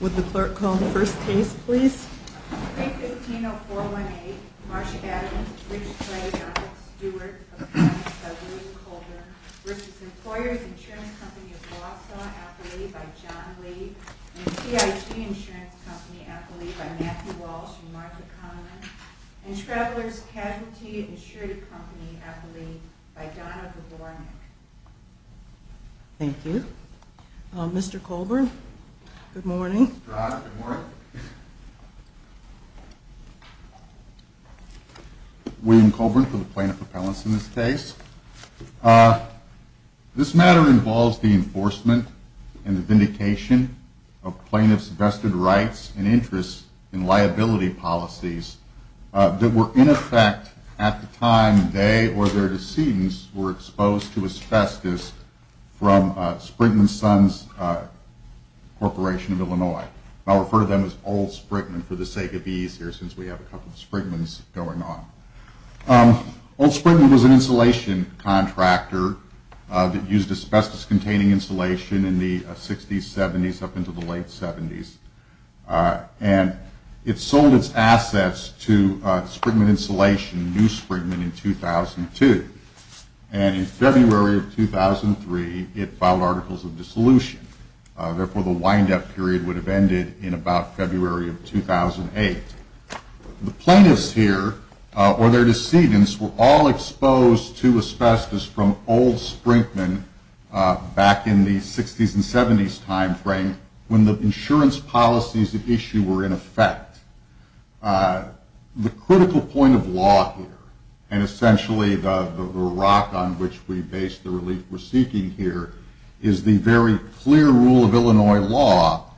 Would the clerk call the first case, please? Thank you. You know, for one, a Marsha Adams, which do work versus employers insurance company of Wausau, by John Lee insurance company, I believe I'm Matthew Walsh market comment and travelers casualty insured company, I believe by Donna Thank you, Mr Colburn. Good morning. William Colburn for the plaintiff appellants. In this case, this matter involves the enforcement and the vindication of plaintiff's vested rights and interests in liability policies that were in effect at the time they, or their decedents were exposed to asbestos from Sprinkman Sons Corporation of Illinois. I'll refer to them as old Sprinkman for the sake of ease here, since we have a couple of Sprinkman's going on. Old Sprinkman was an insulation contractor that used asbestos containing insulation in the 60s, 70s, up into the late 70s. And it sold its assets to Sprinkman insulation, new Sprinkman in 2002. And in February of 2003, it filed articles of dissolution. Therefore the windup period would have ended in about February of 2008. The plaintiffs here or their decedents were all exposed to asbestos from old Sprinkman back in the 60s and 70s timeframe when the insurance policies issue were in effect. The critical point of law here, and essentially the, the rock on which we base the relief we're seeking here is the very clear rule of Illinois law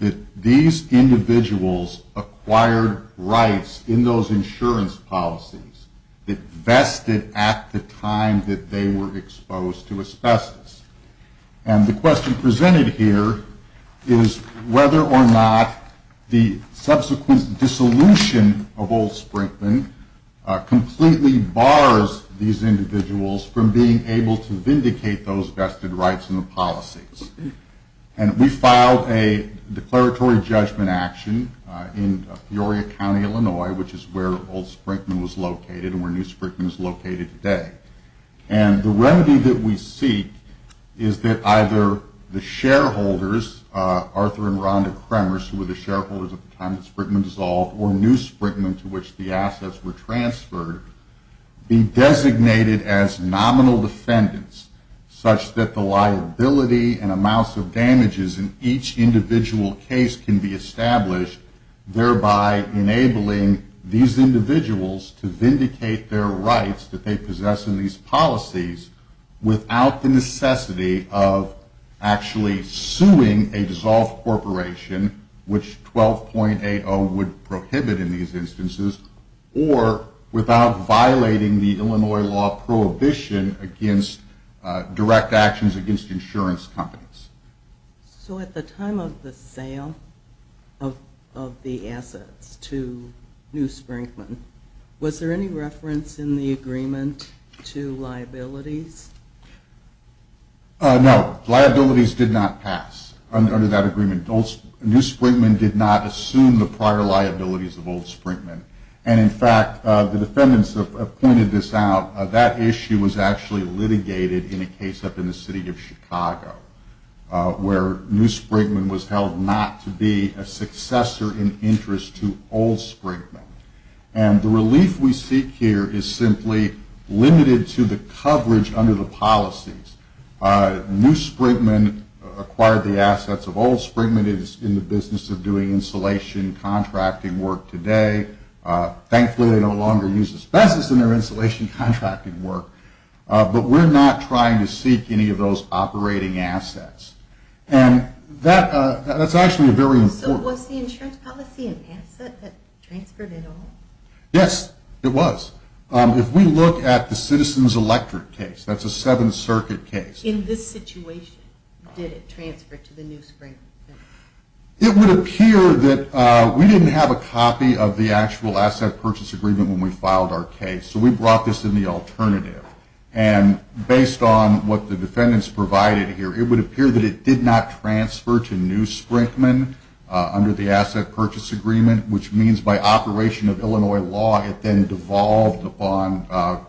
that these individuals acquired rights in those insurance policies that vested at the time that they were exposed to asbestos. And the question presented here is whether or not the subsequent dissolution of old Sprinkman completely bars these individuals from being able to vindicate those vested rights in the policies. And we filed a declaratory judgment action in Peoria County, Illinois, which is where old Sprinkman was located and where new Sprinkman is located today. And the remedy that we seek is that either the shareholders, Arthur and Rhonda Kremers, who were the shareholders at the time that Sprinkman dissolved or new Sprinkman to which the assets were transferred, be designated as nominal defendants such that the liability and amounts of damages in each individual case can be established, thereby enabling these individuals to vindicate their rights that they possess in these policies without the necessity of actually suing a dissolved corporation, which 12.80 would prohibit in these instances or without the necessity of violating the Illinois law prohibition against direct actions against insurance companies. So at the time of the sale of the assets to new Sprinkman, was there any reference in the agreement to liabilities? No. Liabilities did not pass under that agreement. New Sprinkman did not assume the prior liabilities of old Sprinkman. And in fact, the defendants have pointed this out that issue was actually litigated in a case up in the city of Chicago where new Sprinkman was held not to be a successor in interest to old Sprinkman. And the relief we seek here is simply limited to the coverage under the policies. New Sprinkman acquired the assets of old Sprinkman is in the business of doing insulation contracting work today. Thankfully they no longer use asbestos in their insulation contracting work. But we're not trying to seek any of those operating assets. And that that's actually a very important. Was the insurance policy an asset that transferred at all? Yes, it was. If we look at the citizens electorate case, that's a seven circuit case. In this situation, did it transfer to the new Sprinkman? It would appear that we didn't have a copy of the actual asset purchase agreement when we filed our case. So we brought this in the alternative and based on what the defendants provided here, it would appear that it did not transfer to new Sprinkman under the asset purchase agreement, which means by operation of Illinois law it then devolved upon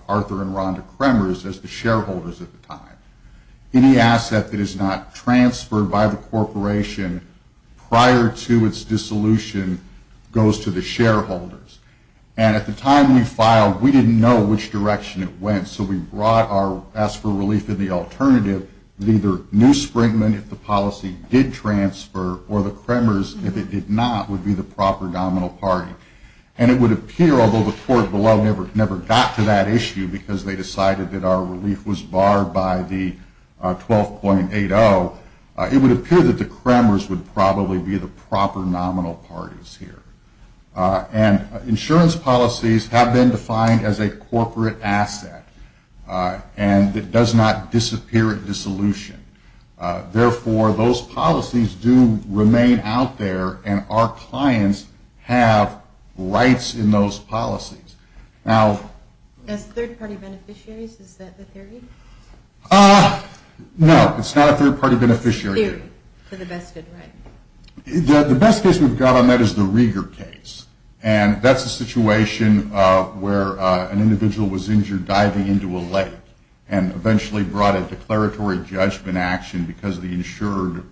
Arthur and Rhonda Kremers as the shareholders at the time. Any asset that is not transferred by the corporation prior to its dissolution goes to the shareholders. And at the time we filed, we didn't know which direction it went. So we brought our ask for relief in the alternative, neither new Sprinkman if the policy did transfer or the Kremers if it did not would be the proper nominal party. And it would appear, although the court below never never got to that issue because they decided that our relief was barred by the 12.80, it would appear that the Kremers would probably be the proper nominal parties here. And insurance policies have been defined as a corporate asset and it does not disappear at dissolution. Therefore those policies do remain out there and our clients have rights in those policies. Now, as third party beneficiaries, is that the theory? Ah, no, it's not a third party beneficiary. For the best good, right? The best case we've got on that is the Rieger case. And that's a situation where an individual was injured diving into a lake and eventually brought a declaratory judgment action because the insured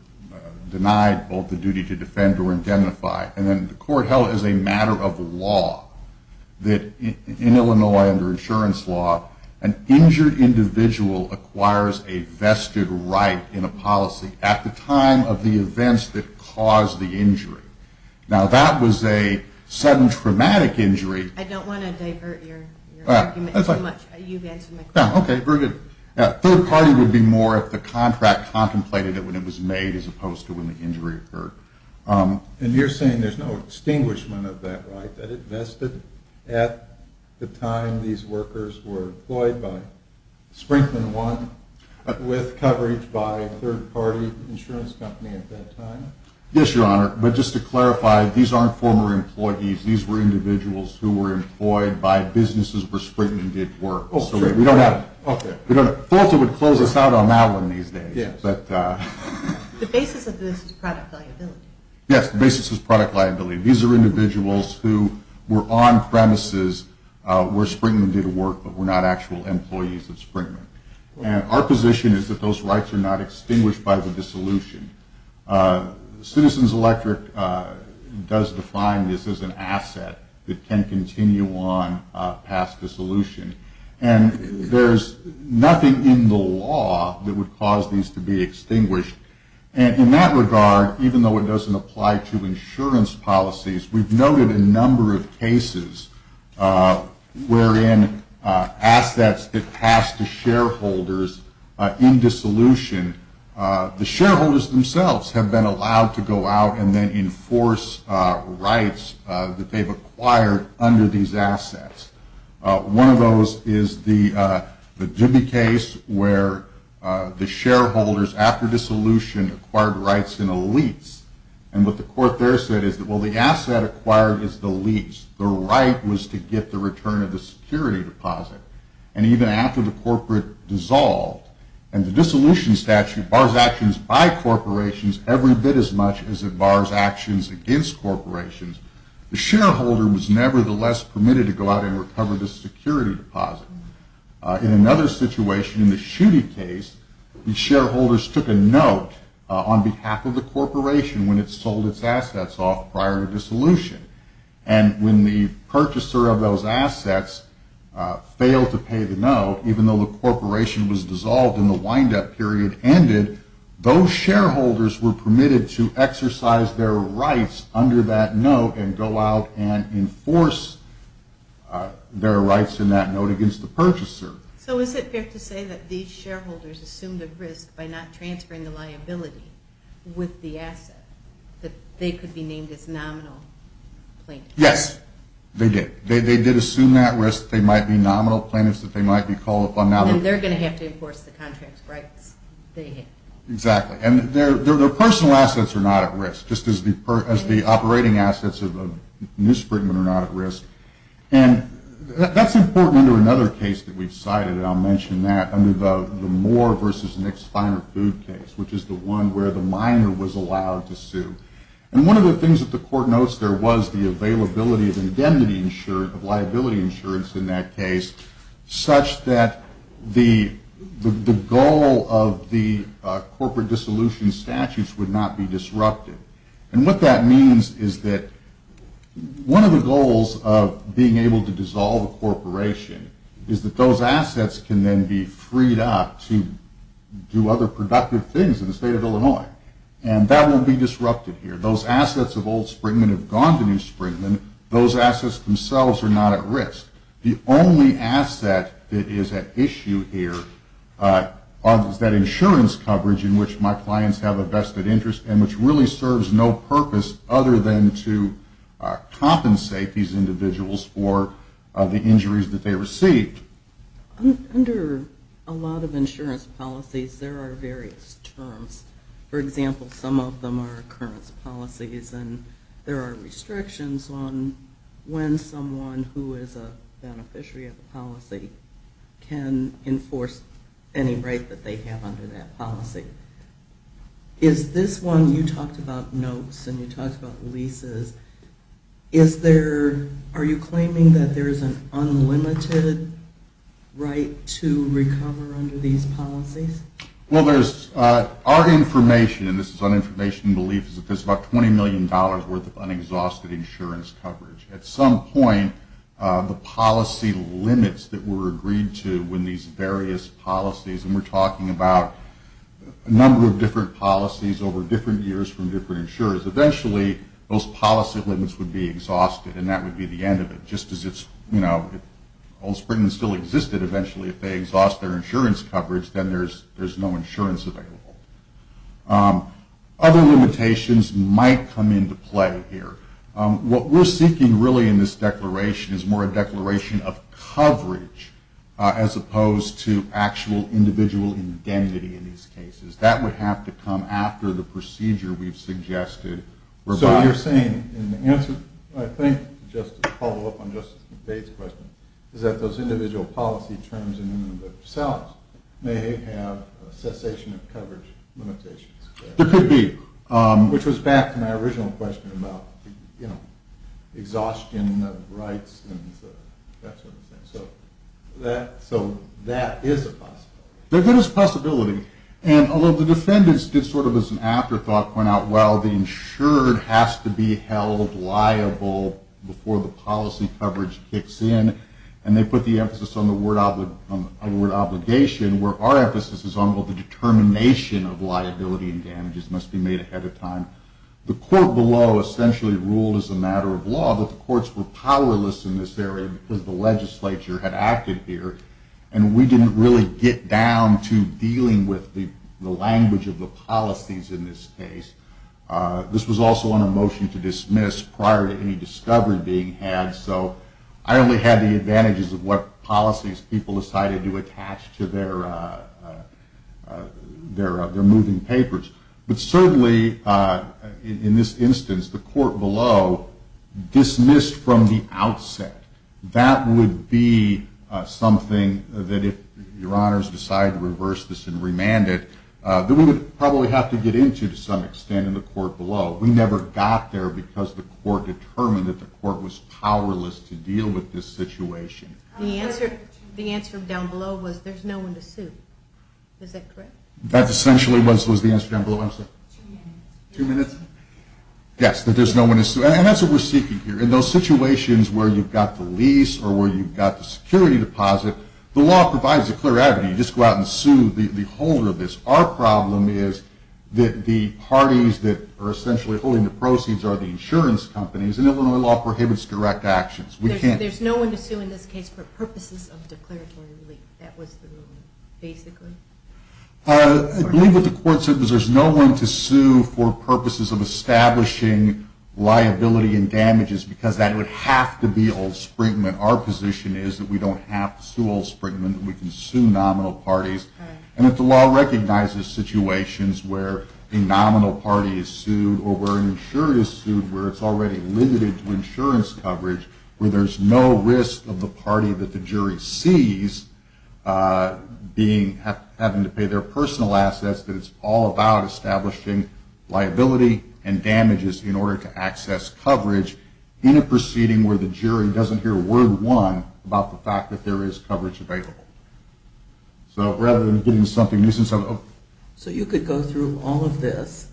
denied both the duty to defend or indemnify. And then the court held as a matter of law that in Illinois under insurance law, an injured individual acquires a vested right in a policy at the time of the events that caused the injury. Now, that was a sudden traumatic injury. I don't want to divert your argument too much. You've answered my question. No, okay. Very good. Third party would be more if the contract contemplated it when it was made as opposed to when the injury occurred. And you're saying there's no extinguishment of that, right? That it vested at the time these workers were employed by Sprinkman one with coverage by a third party insurance company at that time? Yes, Your Honor. But just to clarify, these aren't former employees. These were individuals who were employed by businesses where Sprinkman did work. So we don't have, we don't have, Fulton would close us out on that one these days, but, the basis of this is product liability. Yes. The basis is product liability. These are individuals who were on premises where Sprinkman did work, but were not actual employees of Sprinkman. And our position is that those rights are not extinguished by the dissolution. Citizens Electric does define this as an asset that can continue on past dissolution. And there's nothing in the law that would cause these to be extinguished. And in that regard, even though it doesn't apply to insurance policies, we've noted a number of cases wherein assets that pass to shareholders in dissolution, the shareholders themselves have been allowed to go out and then enforce rights that they've acquired under these assets. One of those is the Dubie case where the shareholders after dissolution acquired rights in a lease. And what the court there said is that, well, the asset acquired is the lease. The right was to get the return of the security deposit. And even after the corporate dissolved and the dissolution statute bars actions by corporations every bit as much as it bars actions against corporations, the shareholder was nevertheless permitted to go out and recover the security deposit. In another situation, in the shooting case, the shareholders took a note on behalf of the corporation when it sold its assets off prior to dissolution. And when the purchaser of those assets failed to pay the note, even though the corporation was dissolved in the windup period ended, those shareholders were permitted to exercise their rights under that note and go out and enforce their rights in that note against the purchaser. So is it fair to say that these shareholders assumed a risk by not transferring the liability with the asset that they could be named as nominal plaintiffs? Yes, they did. They did assume that risk. They might be nominal plaintiffs that they might be called upon. And they're going to have to enforce the contract's rights. Exactly. And their personal assets are not at risk, just as the operating assets of a newsprint are not at risk. And that's important under another case that we've cited. And I'll mention that under the Moore versus Nick's finer food case, which is the one where the minor was allowed to sue. And one of the things that the court notes there was the availability of indemnity insurance, of liability insurance in that case, such that the goal of the corporate dissolution statutes would not be disrupted. And what that means is that one of the goals of being able to dissolve a corporation is that those assets can then be freed up to do other productive things in the state of Illinois. And that won't be disrupted here. Those assets of old Springman have gone to new Springman. Those assets themselves are not at risk. The only asset that is at issue here is that insurance coverage in which my clients have a vested interest and which really serves no purpose other than to compensate these individuals for the injuries that they received. Under a lot of insurance policies, there are various terms. For example, some of them are occurrence policies and there are restrictions on when someone who is a beneficiary of the policy can enforce any right that they have under that policy. Is this one, you talked about notes and you talked about leases. Is there, are you claiming that there is an unlimited right to recover under these policies? Well, there's our information and this is on information and belief is that there's about $20 million worth of unexhausted insurance coverage. At some point the policy limits that were agreed to when these various policies and we're talking about a number of different policies over different years from different insurers. Eventually those policy limits would be exhausted and that would be the end of it. Just as it's, you know, old Springman still existed eventually if they exhaust their insurance coverage, then there's, there's no insurance available. Other limitations might come into play here. What we're seeking really in this declaration is more a declaration of coverage as opposed to actual individual indemnity in these cases that would have to come after the procedure we've suggested. So you're saying in the answer, I think just to follow up on Justice McVeigh's question is that those individual policy terms in themselves may have a cessation of coverage limitations. There could be. Which was back to my original question about, you know, exhaustion of rights and that sort of thing. So that, so that is a possibility. There is a possibility. And although the defendants did sort of as an afterthought point out, well, the insured has to be held liable before the policy coverage kicks in. And they put the emphasis on the word obligation, where our emphasis is on what the determination of liability and damages must be made ahead of time. The court below essentially ruled as a matter of law that the courts were powerless in this area because the legislature had acted here and we didn't really get down to dealing with the language of the policies in this case. This was also on a motion to dismiss prior to any discovery being had. So I only had the advantages of what policies people decided to attach to their, their, their moving papers. But certainly in this instance, the court below dismissed from the outset that would be something that if your honors decided to reverse this and remanded that we would probably have to get into to some extent in the court below. We never got there because the court determined that the court was powerless to deal with this situation. The answer down below was there's no one to sue. Is that correct? That essentially was, was the answer down below. I'm sorry. Two minutes? Yes. That there's no one to sue. And that's what we're seeking here. In those situations where you've got the lease or where you've got the security deposit, the law provides a clear avenue. You just go out and sue the holder of this. Our problem is that the parties that are essentially holding the proceeds are the insurance companies and Illinois law prohibits direct actions. There's no one to sue in this case for purposes of declaratory relief. That was the ruling basically. I believe that the court said that there's no one to sue for purposes of establishing liability and damages because that would have to be old Sprinkman. Our position is that we don't have to sue old Sprinkman. We can sue nominal parties and that the law recognizes situations where a nominal party is sued or where an insurer is sued, where it's already limited to insurance coverage where there's no risk of the jury sees being having to pay their personal assets, that it's all about establishing liability and damages in order to access coverage in a proceeding where the jury doesn't hear a word one about the fact that there is coverage available. So rather than getting something new, so you could go through all of this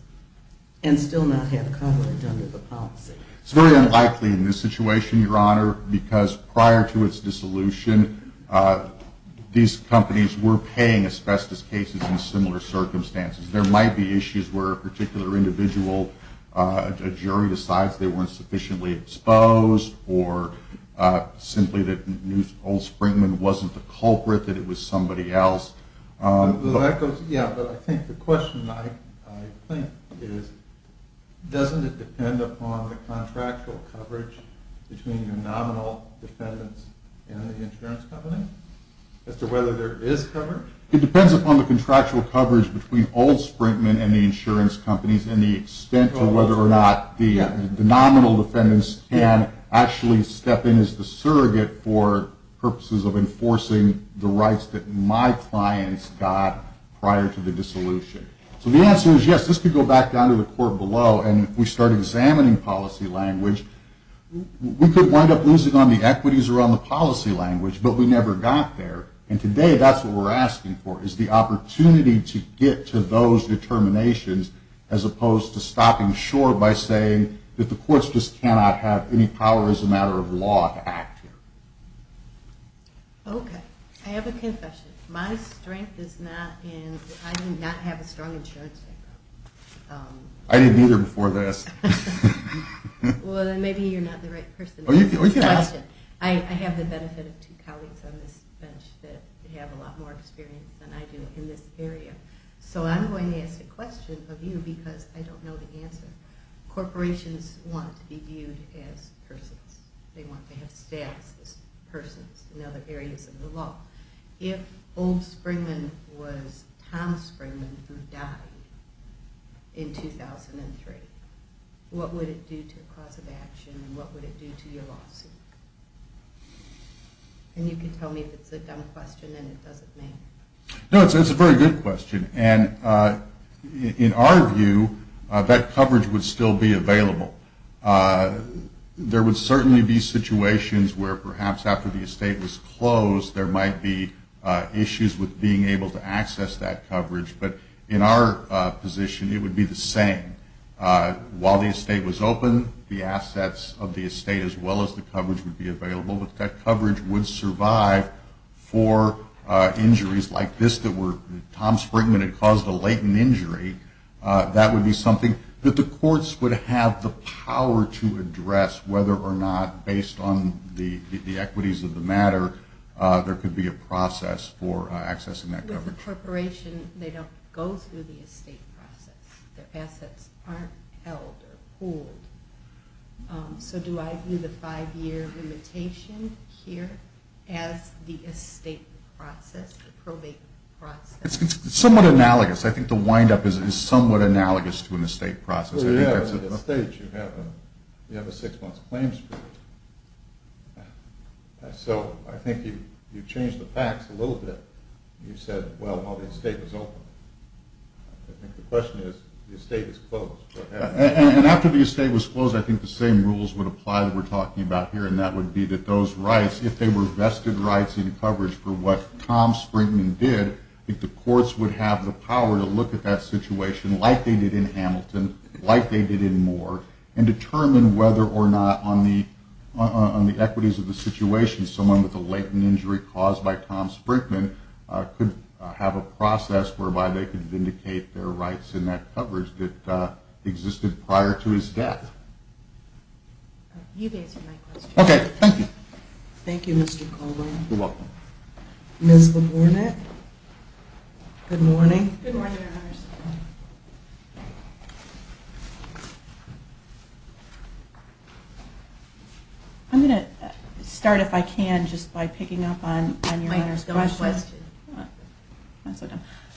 and still not have the policy. It's very unlikely in this situation, your honor, because prior to its dissolution these companies were paying asbestos cases in similar circumstances. There might be issues where a particular individual jury decides they weren't sufficiently exposed or simply that old Sprinkman wasn't the culprit, that it was somebody else. Yeah, but I think the question I think is, doesn't it depend upon the contractual coverage between the nominal defendants and the insurance company as to whether there is coverage? It depends upon the contractual coverage between old Sprinkman and the insurance companies and the extent to whether or not the nominal defendants can actually step in as the surrogate for purposes of enforcing the rights that my clients got prior to the dissolution. So the answer is yes, this could go back down to the court below and we start examining policy language. We could wind up losing on the equities around the policy language, but we never got there. And today that's what we're asking for, is the opportunity to get to those determinations as opposed to stopping short by saying that the courts just cannot have any power as a matter of law to act here. Okay. I have a confession. My strength is not in, I do not have a strong insurance. I didn't either before this. Well then maybe you're not the right person. I have the benefit of two colleagues on this bench that have a lot more experience than I do in this area. So I'm going to ask a question of you because I don't know the answer. Corporations want to be viewed as persons. They want to have status as persons in other areas of the law. If old Springman was Tom Springman who died in 2003, what would it do to the cause of action? What would it do to your lawsuit? And you can tell me if it's a dumb question and it doesn't mean. No, it's a very good question. And in our view, that coverage would still be available. There would certainly be situations where perhaps after the estate was closed, there might be issues with being able to access that coverage. But in our position, it would be the same. While the estate was open, the assets of the estate as well as the coverage would be available with that coverage would survive for injuries like this, that were Tom Springman had caused a latent injury. That would be something that the courts would have the power to address whether or not based on the equities of the matter, there could be a process for accessing that coverage. With the corporation, they don't go through the estate process. Their assets aren't held or pooled. So do I view the five year limitation here as the estate process, the probate process? It's somewhat analogous. I think the windup is somewhat analogous to an estate process. Well, yeah, in an estate, you have a six month claim period. So I think you've changed the facts a little bit. You said, well, while the estate was open, I think the question is the estate is closed. And after the estate was closed, I think the same rules would apply that we're talking about here. And that would be that those rights, if they were vested rights in coverage for what Tom Springman did, I think the courts would have the power to look at that situation like they did in Hamilton, like they did in Moore and determine whether or not on the, on the equities of the situation, someone with a latent injury caused by Tom Sprinkman could have a process whereby they could vindicate their rights in that coverage that existed prior to his death. You guys are my question. Okay. Thank you. Thank you, Mr. Coleman. Ms. LaBournette. Good morning. I'm going to start if I can just by picking up on your last question.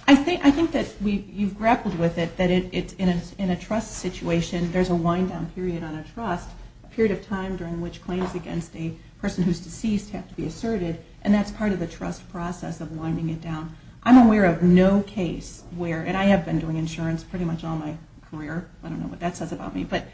I think, I think that we've, you've grappled with it, that it's in a, in a trust situation, there's a wind down period on a trust period of time during which claims against a person who's deceased have to be asserted. And that's part of the trust process of winding it down. I'm aware of no case where, and I have been doing insurance pretty much all my career. I don't know what that says about me, but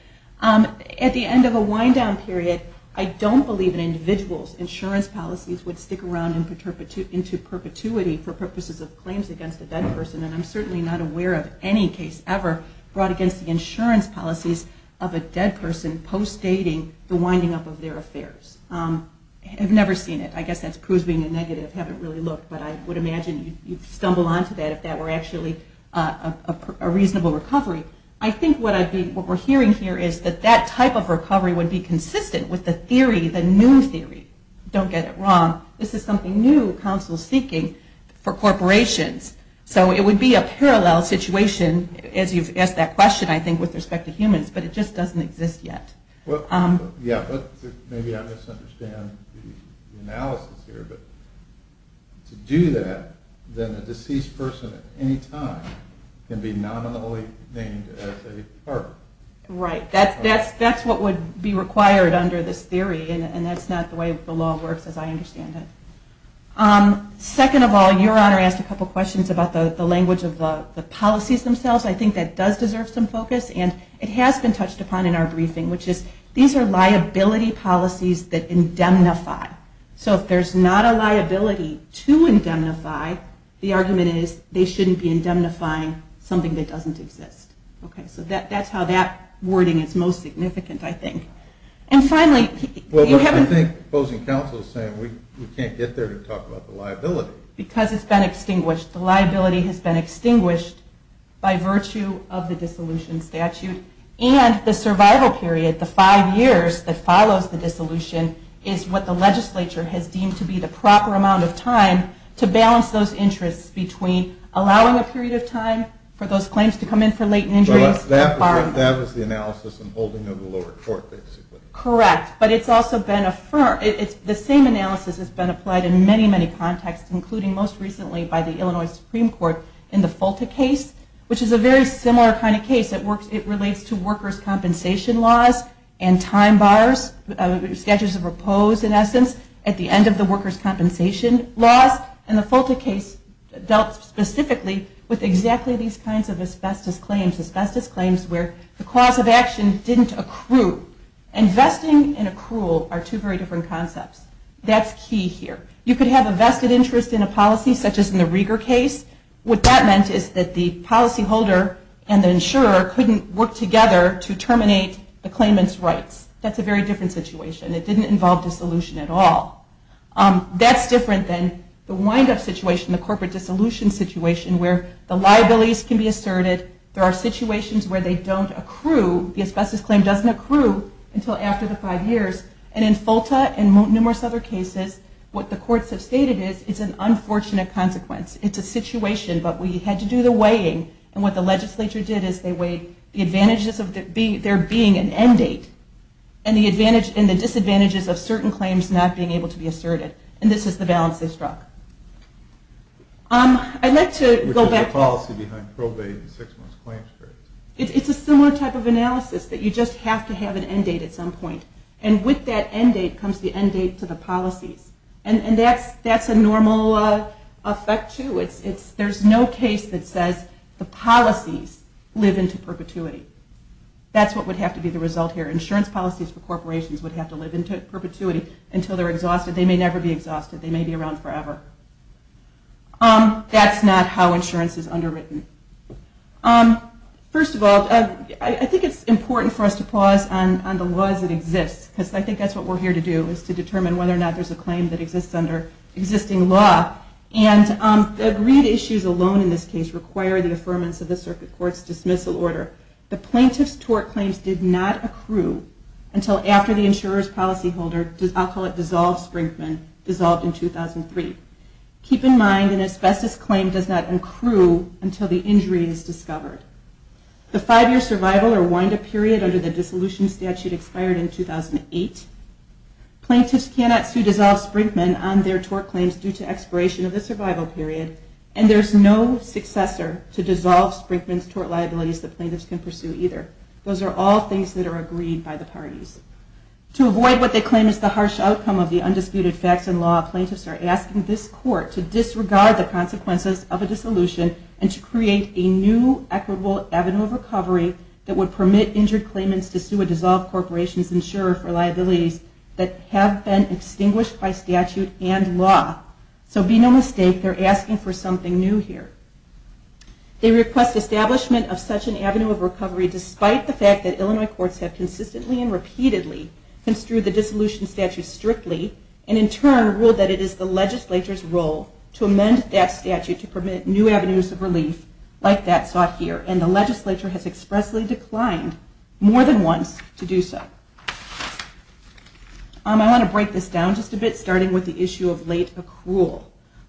at the end of a wind down period, I don't believe an individual's insurance policies would stick around in perpetuity, into perpetuity for purposes of claims against a dead person. And I'm certainly not aware of any case ever brought against the insurance policies of a dead person post dating the winding up of their affairs. I've never seen it. I guess that's proves being a negative, haven't really looked, but I would imagine you'd stumble onto that. That were actually a reasonable recovery. I think what I'd be, what we're hearing here is that that type of recovery would be consistent with the theory, the new theory. Don't get it wrong. This is something new counsel's thinking for corporations. So it would be a parallel situation as you've asked that question, I think with respect to humans, but it just doesn't exist yet. Well, yeah, but maybe I misunderstand the analysis here, but to do that, then a deceased person at any time can be nominally named as a partner. Right. That's, that's, that's what would be required under this theory and that's not the way the law works as I understand it. Second of all, your honor asked a couple of questions about the language of the policies themselves. I think that does deserve some focus and it has been touched upon in our briefing, which is these are liability policies that indemnify. So if there's not a liability to indemnify, the argument is they shouldn't be indemnifying something that doesn't exist. Okay. So that, that's how that wording is most significant, I think. And finally, well I think opposing counsel is saying we can't get there to talk about the liability because it's been extinguished. The liability has been extinguished by virtue of the dissolution statute and the survival period, the five years that follows the dissolution is what the legislature has deemed to be the proper amount of time to balance those interests between allowing a period of time for those claims to come in for latent injuries. That was the analysis and holding of the lower court basically. Correct. But it's also been a firm, it's the same analysis has been applied in many, many contexts, including most recently by the Illinois Supreme Court in the FOLTA case, which is a very similar kind of case that works. It relates to workers' compensation laws and time bars, statutes of repose in essence at the end of the workers' compensation laws and the FOLTA case dealt specifically with exactly these kinds of asbestos claims, asbestos claims where the cause of action didn't accrue. And vesting and accrual are two very different concepts. That's key here. You could have a vested interest in a policy such as in the Rieger case. What that meant is that the policyholder and the insurer couldn't work together to terminate the claimant's rights. That's a very different situation. It didn't involve dissolution at all. That's different than the windup situation, the corporate dissolution situation where the liabilities can be asserted. There are situations where they don't accrue. The asbestos claim doesn't accrue until after the five years. And in FOLTA and numerous other cases, what the courts have stated is it's an unfortunate consequence. It's a situation, but we had to do the weighing. And what the legislature did is they weighed the advantages of there being an end date and the disadvantages of certain claims not being able to be asserted. And this is the balance they struck. I'd like to go back. Which is the policy behind probating six months' claims for it. It's a similar type of analysis that you just have to have an end date at some point. And with that end date comes the end date to the policies. And that's a normal effect, too. There's no case that says the policies live into perpetuity. That's what would have to be the result here. Insurance policies for corporations would have to live into perpetuity until they're exhausted. They may never be exhausted. They may be around forever. That's not how insurance is underwritten. First of all, I think it's important for us to pause on the laws that exist, because I think that's what we're here to do, is to determine whether or not there's a claim that exists under existing law. And the agreed issues alone in this case require the affirmance of the circuit court's dismissal order. The plaintiff's tort claims did not accrue until after the insurer's policy holder, I'll call it dissolved Sprinkman, dissolved in 2003. Keep in mind an asbestos claim does not accrue until the injury is discovered. The five-year survival or wind-up period under the dissolution statute expired in 2008. Plaintiffs cannot sue dissolved Sprinkman on their tort claims due to expiration of the survival period. And there's no successor to dissolve Sprinkman's tort liabilities that plaintiffs can pursue either. Those are all things that are agreed by the parties. To avoid what they claim is the harsh outcome of the undisputed facts and law, plaintiffs are asking this court to disregard the consequences of a dissolution and to create a new equitable avenue of recovery that would permit injured plaintiffs to sue a dissolved corporation's insurer for liabilities that have been extinguished by statute and law. So be no mistake, they're asking for something new here. They request establishment of such an avenue of recovery despite the fact that Illinois courts have consistently and repeatedly construed the dissolution statute strictly and in turn ruled that it is the legislature's role to amend that statute to permit new avenues of relief like that sought here. And the legislature has expressly declined more than once to do so. I want to break this down just a bit, starting with the issue of late accrual.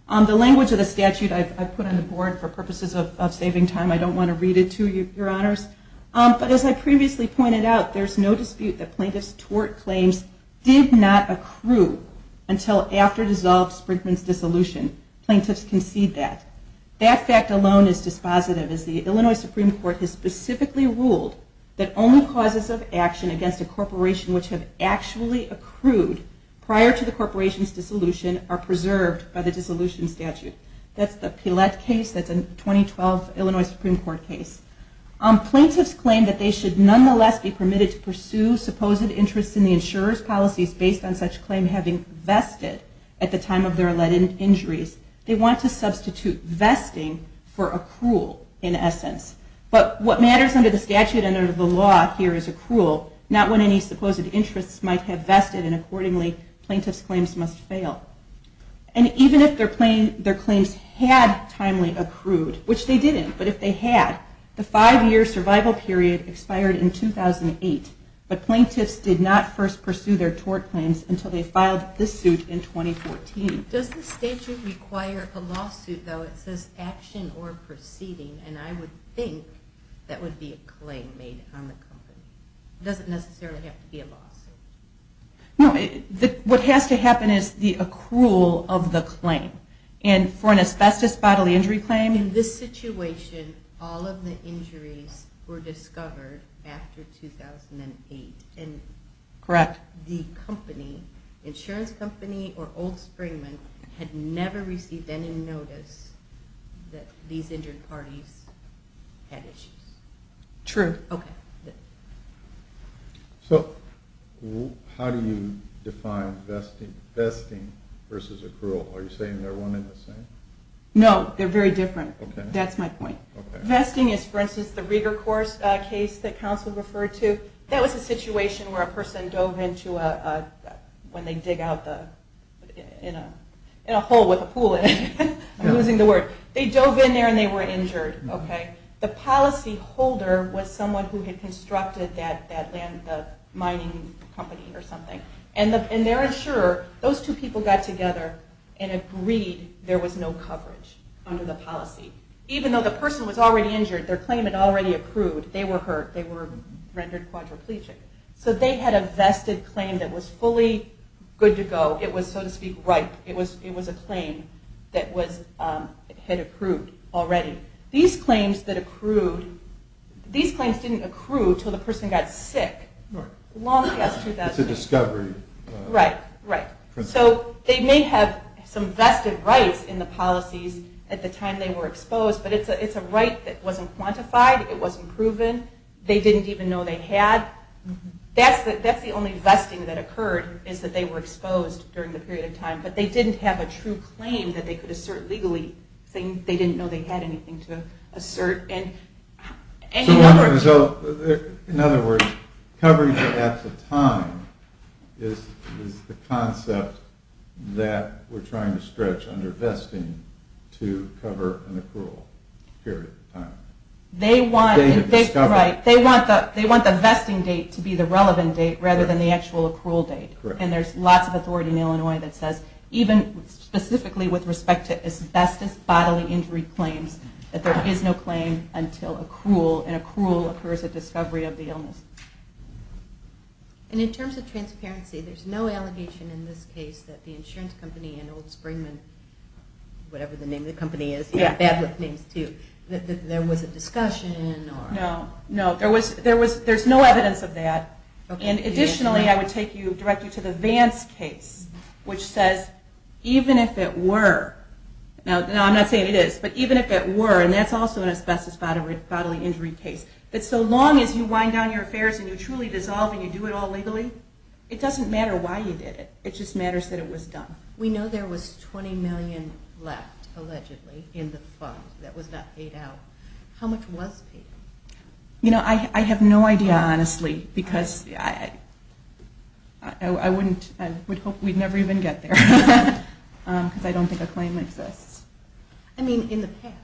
The language of the statute I've put on the board for purposes of saving time, I don't want to read it to you, your honors. But as I previously pointed out, there's no dispute that plaintiffs' tort claims did not accrue until after dissolved Sprinkman's dissolution. Plaintiffs concede that. That fact alone is dispositive as the Illinois Supreme Court has specifically ruled that only causes of action against a corporation which have actually accrued prior to the corporation's dissolution are preserved by the dissolution statute. That's the Pilet case. That's a 2012 Illinois Supreme Court case. Plaintiffs claim that they should nonetheless be permitted to pursue supposed interests in the insurer's policies based on such claim having vested at the time of their alleged injuries. They want to substitute vesting for accrual in essence. But what matters under the statute and under the law here is accrual, not when any supposed interests might have vested and accordingly plaintiff's claims must fail. And even if their claims had timely accrued, which they didn't, but if they had, the five year survival period expired in 2008, but plaintiffs did not first pursue their tort claims until they filed this suit in 2014. Does the statute require a lawsuit though? It says action or proceeding. And I would think that would be a claim made on the company. It doesn't necessarily have to be a lawsuit. No, what has to happen is the accrual of the claim. And for an asbestos bodily injury claim. In this situation, all of the injuries were discovered after 2008 and the company, insurance company or old Springman had never received any notice that these injured parties had issues. True. Okay. So how do you define vesting versus accrual? Are you saying they're one in the same? No, they're very different. That's my point. Vesting is for instance, the Rieger course case that counsel referred to. That was a situation where a person dove into a, when they dig out the, in a, in a hole with a pool in it, I'm losing the word. They dove in there and they were injured. Okay. The policy holder was someone who had constructed that, that land mining company or something. And the, and their insurer, those two people got together and agreed there was no coverage under the claim. The person was already injured. Their claim had already accrued. They were hurt. They were rendered quadriplegic. So they had a vested claim that was fully good to go. It was, so to speak, right. It was, it was a claim that was, had accrued already. These claims that accrued, these claims didn't accrue till the person got sick long past 2008. It's a discovery. Right, right. So they may have some vested rights in the policies at the time they were accrued. It wasn't quantified. It wasn't proven. They didn't even know they had. That's the only vesting that occurred is that they were exposed during the period of time, but they didn't have a true claim that they could assert legally. They didn't know they had anything to assert. And in other words, coverage at the time is the concept that we're trying to stretch under vesting to cover an accrual period of time. They want, they want the, they want the vesting date to be the relevant date rather than the actual accrual date. And there's lots of authority in Illinois that says, even specifically with respect to asbestos bodily injury claims, that there is no claim until accrual and accrual occurs at discovery of the illness. And in terms of transparency, there's no allegation in this case that the insurance company and Old whatever the name of the company is, bad with names too, that there was a discussion or no, no, there was, there was, there's no evidence of that. And additionally, I would take you directly to the Vance case, which says, even if it were now, no, I'm not saying it is, but even if it were, and that's also an asbestos bodily injury case, that so long as you wind down your affairs and you truly dissolve and you do it all legally, it doesn't matter why you did it. It just matters that it was done. We know there was 20 million left allegedly in the fund that was not paid out. How much was paid? You know, I have no idea, honestly, because I, I wouldn't, I would hope we'd never even get there. Cause I don't think a claim exists. I mean in the past,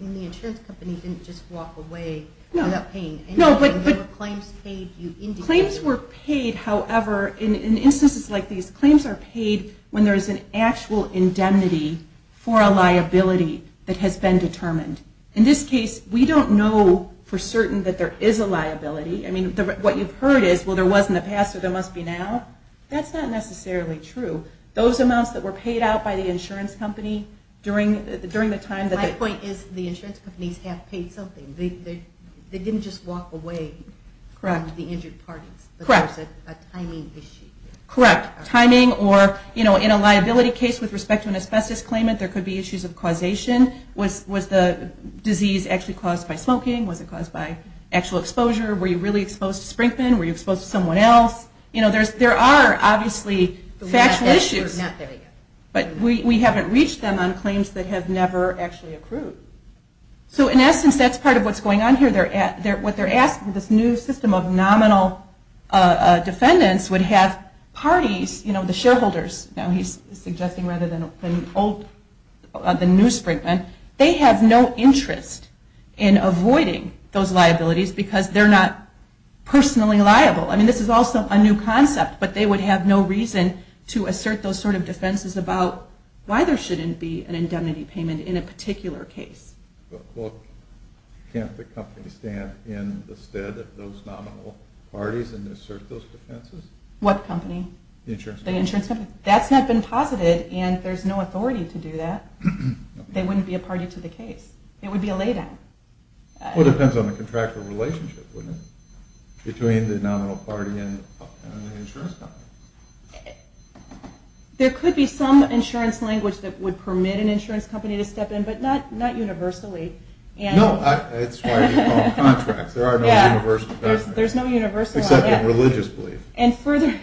in the insurance company, didn't just walk away without paying. No, but, but claims paid, claims were paid. However, in, in instances like these claims are paid, when there's an actual indemnity for a liability that has been determined. In this case, we don't know for certain that there is a liability. I mean, what you've heard is, well, there wasn't a past, so there must be now. That's not necessarily true. Those amounts that were paid out by the insurance company during the, during the time that the insurance companies have paid something, they, they, they didn't just walk away from the injured parties. Correct. A timing issue. Correct. Timing or, you know, in a liability case with respect to an asbestos claimant, there could be issues of causation. Was, was the disease actually caused by smoking? Was it caused by actual exposure? Were you really exposed to Sprinkman? Were you exposed to someone else? You know, there's, there are obviously factual issues, but we, we haven't reached them on claims that have never actually accrued. So in essence, that's part of what's going on here. They're at there, what they're asking, this new system of nominal defendants would have parties, you know, the shareholders, now he's suggesting rather than old, the new Sprinkman, they have no interest in avoiding those liabilities because they're not personally liable. I mean, this is also a new concept, but they would have no reason to assert those sort of defenses about why there shouldn't be an indemnity payment in a particular case. But can't the company stand in the stead of those nominal parties and assert those defenses? What company? The insurance company? That's not been posited and there's no authority to do that. They wouldn't be a party to the case. It would be a lay down. Well, it depends on the contractual relationship, wouldn't it? Between the nominal party and an insurance company. There could be some insurance language that would permit an insurance company to step in, but not universally. No, that's why we call it contracts. There are no universal barriers. There's no universal. Except in religious belief. And furthermore,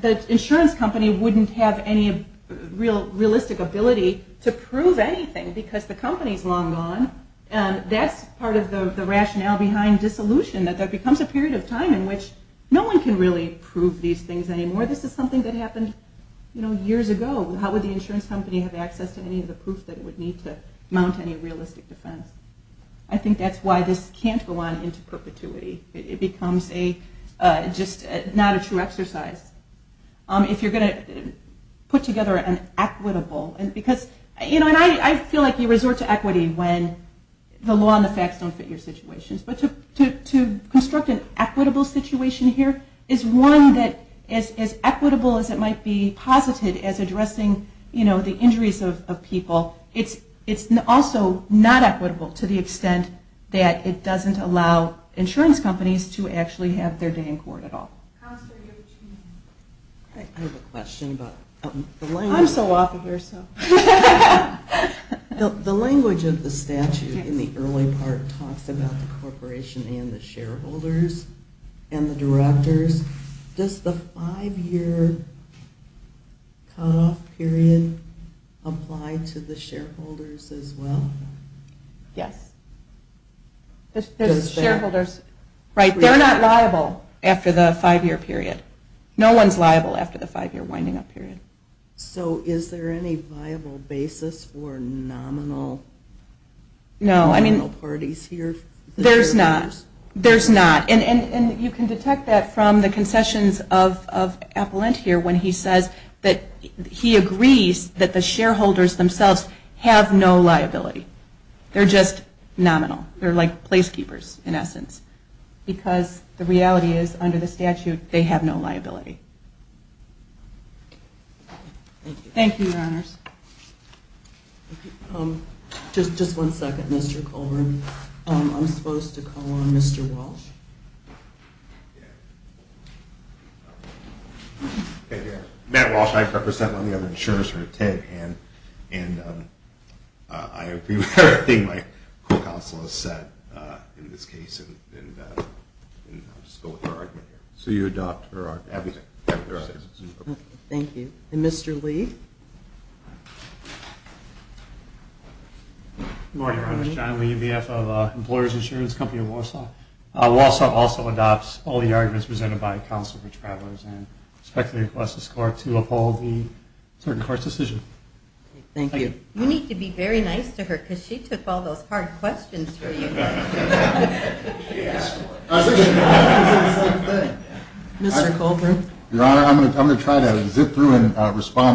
the insurance company wouldn't have any real realistic ability to prove anything because the company's long gone and that's part of the rationale behind dissolution, that there becomes a period of time in which no one can really prove these things anymore. This is something that happened, you know, years ago. How would the insurance company have access to any of the proof that it would need to mount any realistic defense? I think that's why this can't go on into perpetuity. It becomes a just not a true exercise. If you're going to put together an equitable and because, you know, and I feel like you resort to equity when the law and the facts don't fit your situations, but to construct an equitable situation here is one that is as equitable as it is equitable. It's not equitable to the extent that it doesn't allow insurance companies to actually have their day in court at all. I have a question about the language of the statute in the early part talks about the corporation and the shareholders and the directors. Does the five year cutoff period apply to the shareholders as well? Yes. There's shareholders, right? They're not liable after the five year period. No one's liable after the five year winding up period. So is there any viable basis for nominal parties here? There's not. There's not. And you can detect that from the concessions of Appellant here when he says that he agrees that the shareholders themselves have no liability. They're just nominal. They're like placekeepers in essence because the reality is under the statute, they have no liability. Thank you, Your Honors. Just one second, Mr. Colburn. I'm supposed to call on Mr. Walsh. Matt Walsh, I represent one of the other insurers here at TIG and I agree with everything my co-counsel has said in this case and I'll just go with her argument. So you adopt her argument. Thank you. And Mr. Lee. Good morning, Your Honors. John Lee, BF of Employers Insurance Company of Walsh Law. Walsh Law also adopts all the arguments presented by counsel for travelers and respectfully request this court to uphold the certain court's decision. Thank you. You need to be very nice to her because she took all those hard questions for Mr. Colburn. Your Honor, I'm going to, I'm going to say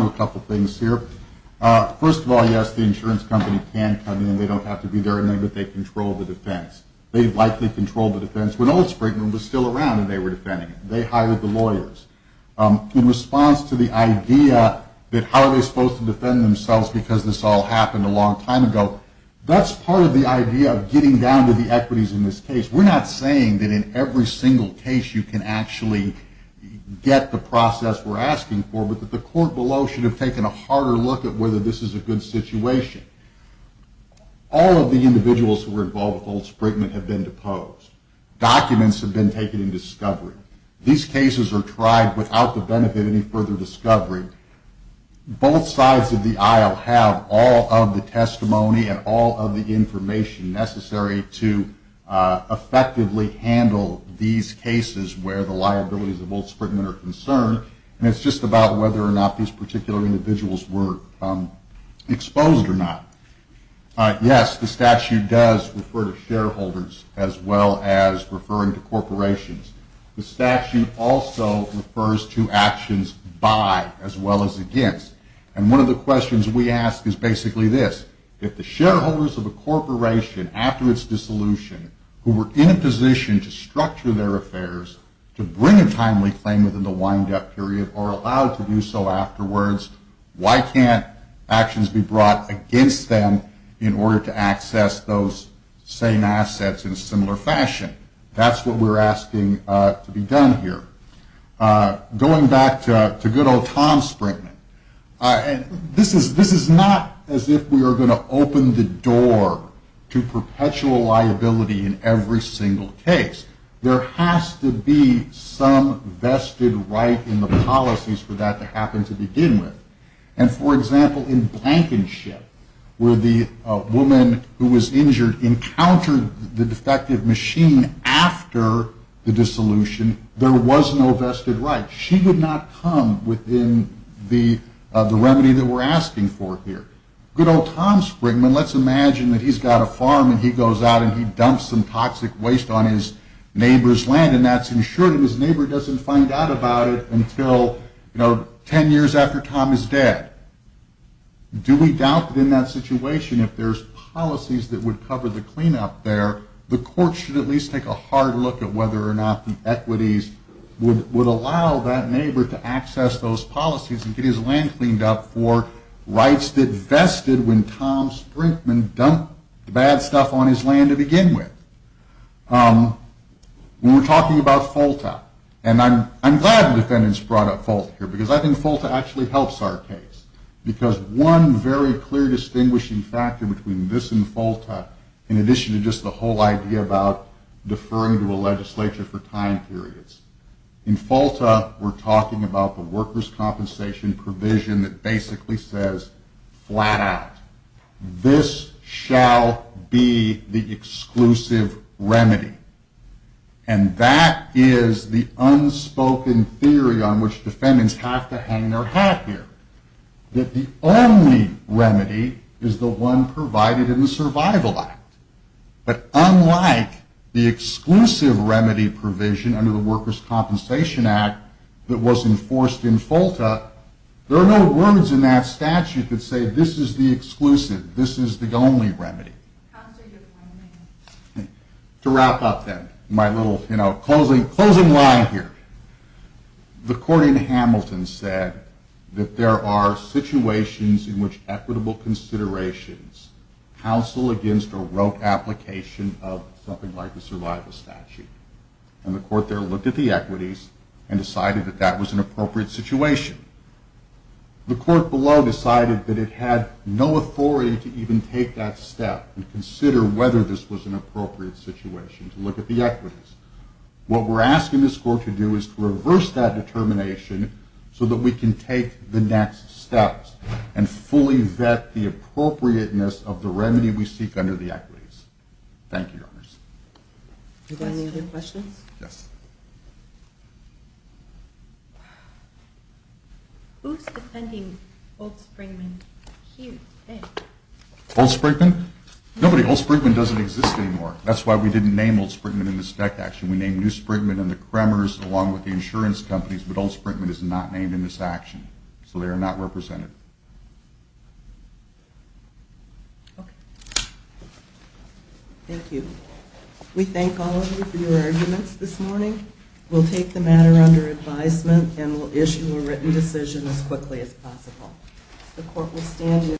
a couple of things here. First of all, yes, the insurance company can come in and they don't have to be there and know that they control the defense. They'd likely control the defense when Old Springton was still around and they were defending it. They hired the lawyers in response to the idea that how are they supposed to defend themselves because this all happened a long time ago. That's part of the idea of getting down to the equities in this case. We're not saying that in every single case you can actually get the process we're asking for, but that the court below should have taken a harder look at whether this is a good situation. All of the individuals who were involved with Old Sprigman have been deposed. Documents have been taken in discovery. These cases are tried without the benefit of any further discovery. Both sides of the aisle have all of the testimony and all of the information necessary to effectively handle these cases where the liabilities of Old Spriggan are concerned. And it's just about whether or not these particular individuals were exposed or not. Yes, the statute does refer to shareholders as well as referring to corporations. The statute also refers to actions by as well as against. And one of the questions we ask is basically this, if the shareholders of a corporation after its dissolution who were in a position to structure their affairs to bring a timely claim within the windup period or allowed to do so afterwards, why can't actions be brought against them in order to access those same assets in a similar fashion? That's what we're asking to be done here. Going back to good old Tom Sprigman, and this is not as if we are going to open the door to perpetual liability in every single case, there has to be some vested right in the policies for that to happen to begin with. And for example, in Blankenship where the woman who was injured encountered the defective machine after the dissolution, there was no vested right. She did not come within the remedy that we're asking for here. Good old Tom Sprigman. Let's imagine that he's got a farm and he goes out and he dumps some toxic waste on his neighbor's land and that's insured and his neighbor doesn't find out about it until 10 years after Tom is dead. Do we doubt that in that situation, if there's policies that would cover the cleanup there, the court should at least take a hard look at whether or not the equities would allow that neighbor to access those policies and get his land cleaned up for rights that vested when Tom Sprigman dumped the bad stuff on his land to begin with. When we're talking about FOLTA and I'm glad the defendants brought up FOLTA here because I think FOLTA actually helps our case because one very clear distinguishing factor between this and FOLTA in addition to just the whole idea about deferring to a legislature for time periods. In FOLTA we're talking about the workers' compensation provision that basically says flat out this shall be the exclusive remedy. And that is the unspoken theory on which defendants have to hang their hat here that the only remedy is the one provided in the survival act. But unlike the exclusive remedy provision under the workers' compensation act that was enforced in FOLTA, there are no words in that statute that say this is the exclusive, this is the only remedy. To wrap up then, my little, you know, closing line here. The court in Hamilton said that there are situations in which equitable considerations counsel against a rote application of something like the survival statute and the court there looked at the equities and decided that that was an appropriate situation. The court below decided that it had no authority to even take that step and consider whether this was an appropriate situation to look at the equities. What we're asking this court to do is to reverse that determination so that we can take the next steps and fully vet the appropriateness of the remedy we seek under the equities. Thank you, Your Honors. Do you have any other questions? Yes. Who's defending Old Sprinkman here today? Old Sprinkman? Nobody. Old Sprinkman doesn't exist anymore. That's why we didn't name Old Sprinkman in the spec action. We named New Sprinkman and the Kremers along with the insurance companies, but Old Sprinkman is not named in this action, so they are not represented. Okay. Thank you. We thank all of you for your arguments this morning. We'll take the matter under advisement and we'll issue a written decision as quickly as possible. The court will stand.